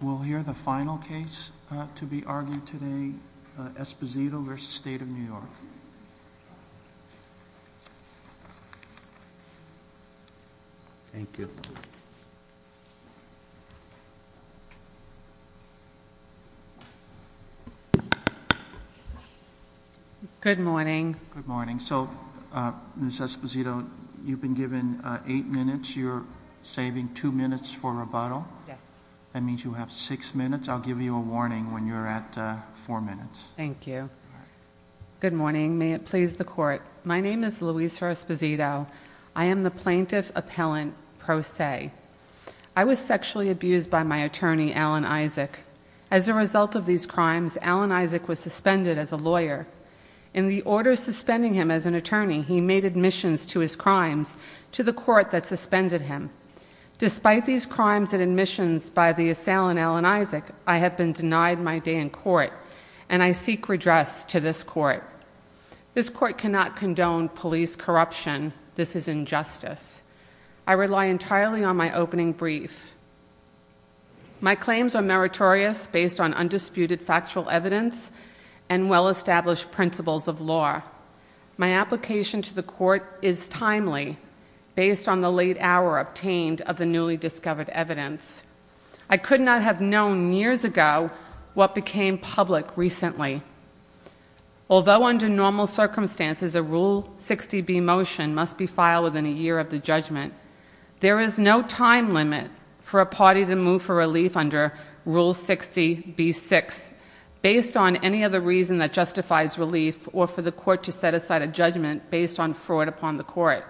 We'll hear the final case to be argued today, Esposito v. State of New York. Thank you. Good morning. Good morning. So, Ms. Esposito, you've been given eight minutes. You're saving two minutes for rebuttal. Yes. That means you have six minutes. I'll give you a warning when you're at four minutes. Thank you. Good morning. May it please the court. My name is Louisa Esposito. I am the plaintiff appellant pro se. I was sexually abused by my attorney, Alan Isaac. As a result of these crimes, Alan Isaac was suspended as a lawyer. In the order suspending him as an attorney, he made admissions to his crimes to the court that suspended him. Despite these crimes and admissions by the assailant, Alan Isaac, I have been denied my day in court, and I seek redress to this court. This court cannot condone police corruption. This is injustice. I rely entirely on my opening brief. My claims are meritorious based on undisputed factual evidence and well established principles of law. My application to the court is timely based on the late hour obtained of the newly discovered evidence. I could not have known years ago what became public recently. Although under normal circumstances a Rule 60B motion must be filed within a year of the judgment, there is no time limit for a party to move for relief under Rule 60B-6. Based on any other reason that justifies relief or for the court to set aside a judgment based on fraud upon the court.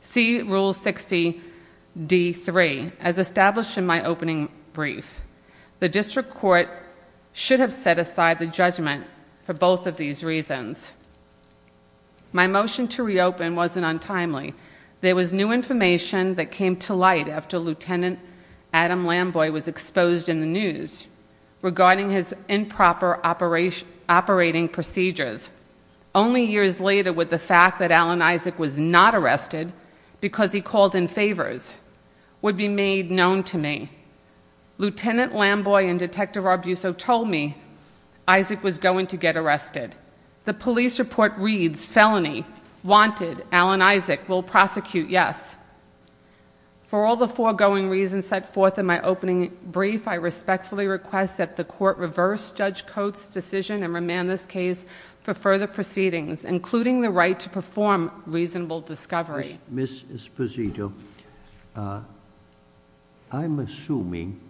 See Rule 60D-3 as established in my opening brief. The district court should have set aside the judgment for both of these reasons. My motion to reopen wasn't untimely. There was new information that came to light after Lieutenant Adam Lamboy was exposed in the news. Regarding his improper operating procedures. Only years later with the fact that Alan Isaac was not arrested because he called in favors would be made known to me. Lieutenant Lamboy and Detective Arbuso told me Isaac was going to get arrested. The police report reads, felony, wanted, Alan Isaac will prosecute, yes. For all the foregoing reasons set forth in my opening brief, I respectfully request that the court reverse Judge Coates' decision and remand this case for further proceedings, including the right to perform reasonable discovery. Ms. Esposito, I'm assuming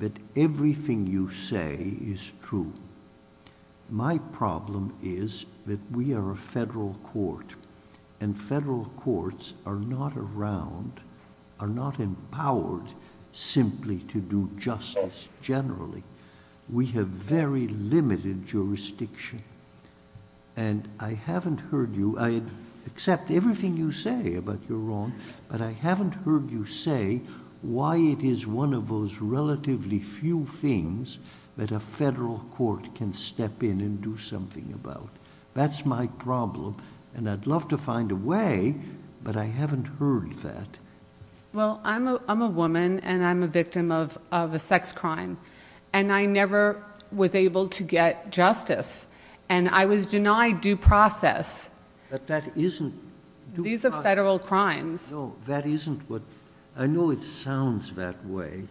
that everything you say is true. My problem is that we are a federal court. And federal courts are not around, are not empowered simply to do justice generally. We have very limited jurisdiction. And I haven't heard you, I accept everything you say about your wrong, but I haven't heard you say why it is one of those relatively few things that a federal court can step in and do something about. That's my problem, and I'd love to find a way, but I haven't heard that. Well, I'm a woman, and I'm a victim of a sex crime. And I never was able to get justice, and I was denied due process. But that isn't- These are federal crimes. No, that isn't what, I know it sounds that way,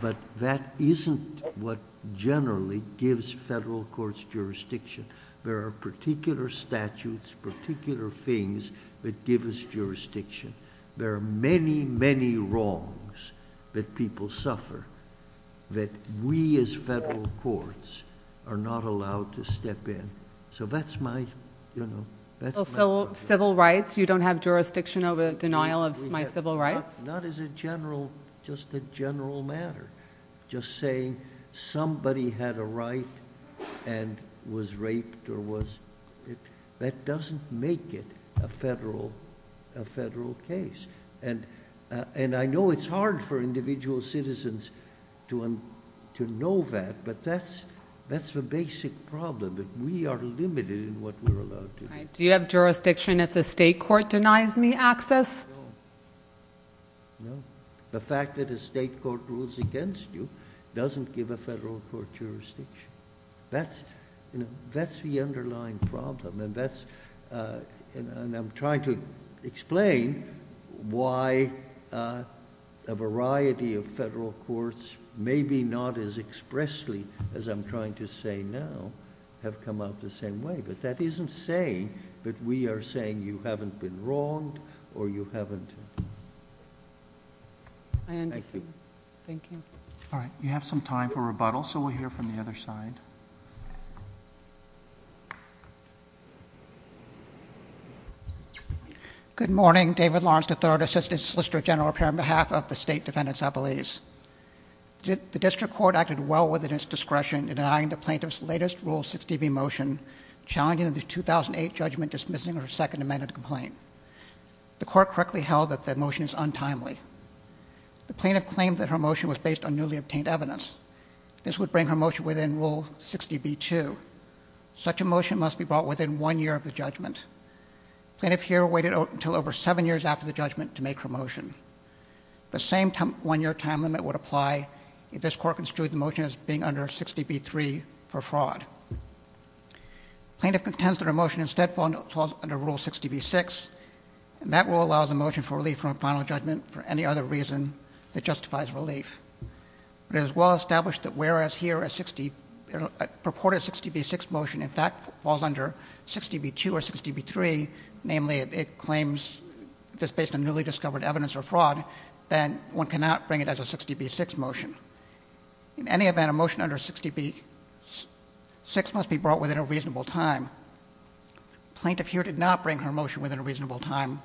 but that isn't what generally gives federal courts jurisdiction. There are particular statutes, particular things that give us jurisdiction. There are many, many wrongs that people suffer that we, as federal courts, are not allowed to step in. So that's my, you know, that's my- So civil rights, you don't have jurisdiction over denial of my civil rights? Not as a general, just a general matter. Just saying somebody had a right and was raped or was, that doesn't make it a federal case. And I know it's hard for individual citizens to know that, but that's the basic problem, that we are limited in what we're allowed to do. Do you have jurisdiction if the state court denies me access? No. No. The fact that a state court rules against you doesn't give a federal court jurisdiction. That's, you know, that's the underlying problem. And that's, and I'm trying to explain why a variety of federal courts, maybe not as expressly as I'm trying to say now, have come out the same way. But that isn't saying that we are saying you haven't been wronged or you haven't- I understand. Thank you. All right, you have some time for rebuttal, so we'll hear from the other side. Good morning, David Lawrence III, Assistant Solicitor General here on behalf of the State Defendant's Appellees. The district court acted well within its discretion in denying the plaintiff's latest Rule 60B motion, challenging the 2008 judgment, dismissing her second amended complaint. The court correctly held that the motion is untimely. The plaintiff claimed that her motion was based on newly obtained evidence. This would bring her motion within Rule 60B-2. Such a motion must be brought within one year of the judgment. Plaintiff here waited until over seven years after the judgment to make her motion. The same one year time limit would apply if this court construed the motion as being under 60B-3 for fraud. Plaintiff contends that her motion instead falls under Rule 60B-6, and that rule allows a motion for relief from a final judgment for any other reason that justifies relief. It is well established that whereas here a purported 60B-6 motion, in fact, falls under 60B-2 or 60B-3, namely it claims that it's based on newly discovered evidence or fraud, then one cannot bring it as a 60B-6 motion. In any event, a motion under 60B-6 must be brought within a reasonable time. Plaintiff here did not bring her motion within a reasonable time,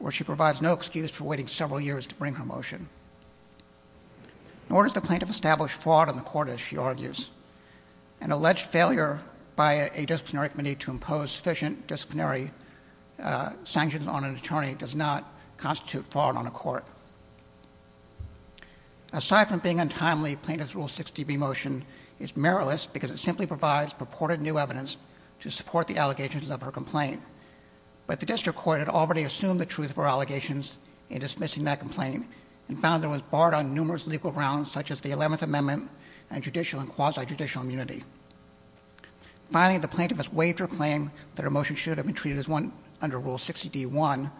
or she provides no excuse for waiting several years to bring her motion. Nor does the plaintiff establish fraud in the court, as she argues. An alleged failure by a disciplinary committee to impose sufficient disciplinary Aside from being untimely, plaintiff's Rule 60B motion is meritless because it simply provides purported new evidence to support the allegations of her complaint. But the district court had already assumed the truth of her allegations in dismissing that complaint, and found that it was barred on numerous legal grounds, such as the 11th Amendment and judicial and quasi-judicial immunity. Finally, the plaintiff has waived her claim that her motion should have been treated as one under Rule 60D-1,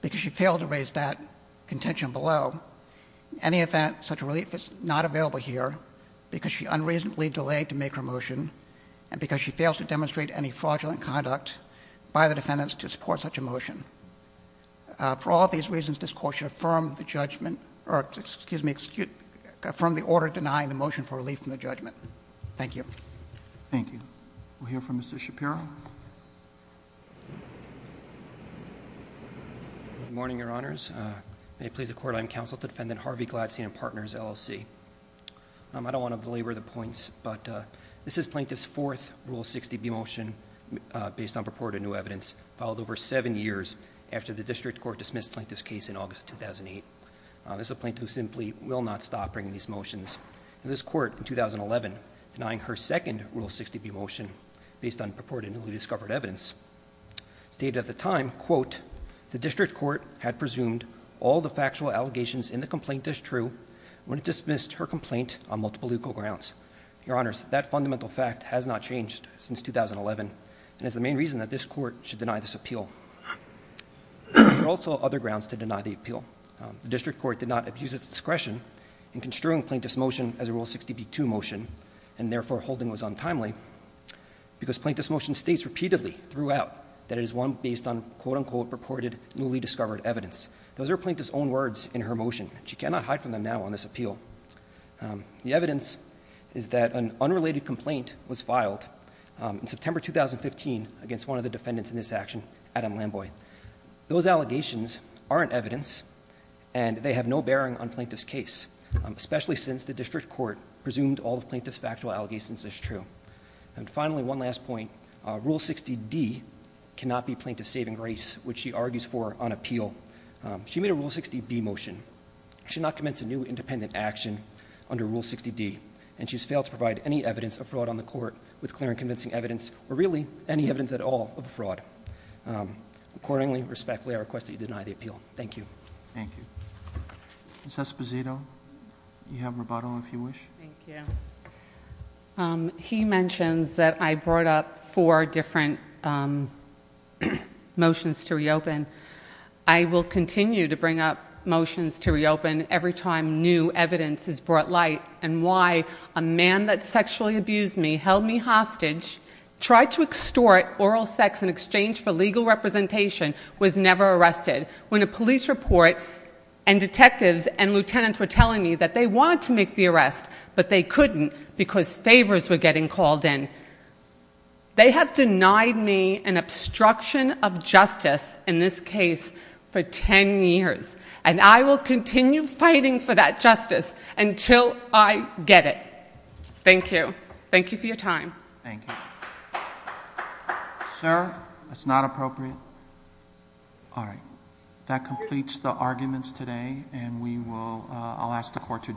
because she failed to raise that contention below. In any event, such a relief is not available here, because she unreasonably delayed to make her motion, and because she fails to demonstrate any fraudulent conduct by the defendants to support such a motion. For all these reasons, this court should affirm the judgment, or excuse me, affirm the order denying the motion for relief from the judgment. Thank you. Thank you. We'll hear from Mr. Shapiro. Good morning, your honors. May it please the court, I am counsel to defendant Harvey Gladstein and partners LLC. I don't want to belabor the points, but this is plaintiff's fourth Rule 60B motion based on purported new evidence, filed over seven years after the district court dismissed plaintiff's case in August 2008. This is a plaintiff who simply will not stop bringing these motions. In this court in 2011, denying her second Rule 60B motion based on purported newly discovered evidence. Stated at the time, quote, the district court had presumed all the factual allegations in the complaint as true when it dismissed her complaint on multiple legal grounds. Your honors, that fundamental fact has not changed since 2011, and is the main reason that this court should deny this appeal. There are also other grounds to deny the appeal. The district court did not abuse its discretion in construing plaintiff's motion as a Rule 60B2 motion, and therefore holding was untimely. Because plaintiff's motion states repeatedly throughout that it is one based on quote unquote purported newly discovered evidence. Those are plaintiff's own words in her motion. She cannot hide from them now on this appeal. The evidence is that an unrelated complaint was filed in September 2015 against one of the defendants in this action, Adam Lamboy. Those allegations aren't evidence, and they have no bearing on plaintiff's case, especially since the district court presumed all the plaintiff's factual allegations as true. And finally, one last point, Rule 60D cannot be plaintiff's saving grace, which she argues for on appeal. She made a Rule 60B motion, she should not commence a new independent action under Rule 60D. And she's failed to provide any evidence of fraud on the court with clear and convincing evidence, or really any evidence at all of fraud. Accordingly, respectfully, I request that you deny the appeal. Thank you. Thank you. Ms. Esposito, you have rebuttal if you wish. Thank you. He mentions that I brought up four different motions to reopen. I will continue to bring up motions to reopen every time new evidence is brought light, and why a man that sexually abused me held me hostage, tried to extort oral sex in exchange for legal representation, was never arrested. When a police report and detectives and lieutenants were telling me that they wanted to make the arrest, but they couldn't because favors were getting called in, they have denied me an obstruction of justice in this case for ten years. And I will continue fighting for that justice until I get it. Thank you. Thank you for your time. Thank you. Sir, it's not appropriate. All right, that completes the arguments today, and I'll ask the court to adjourn.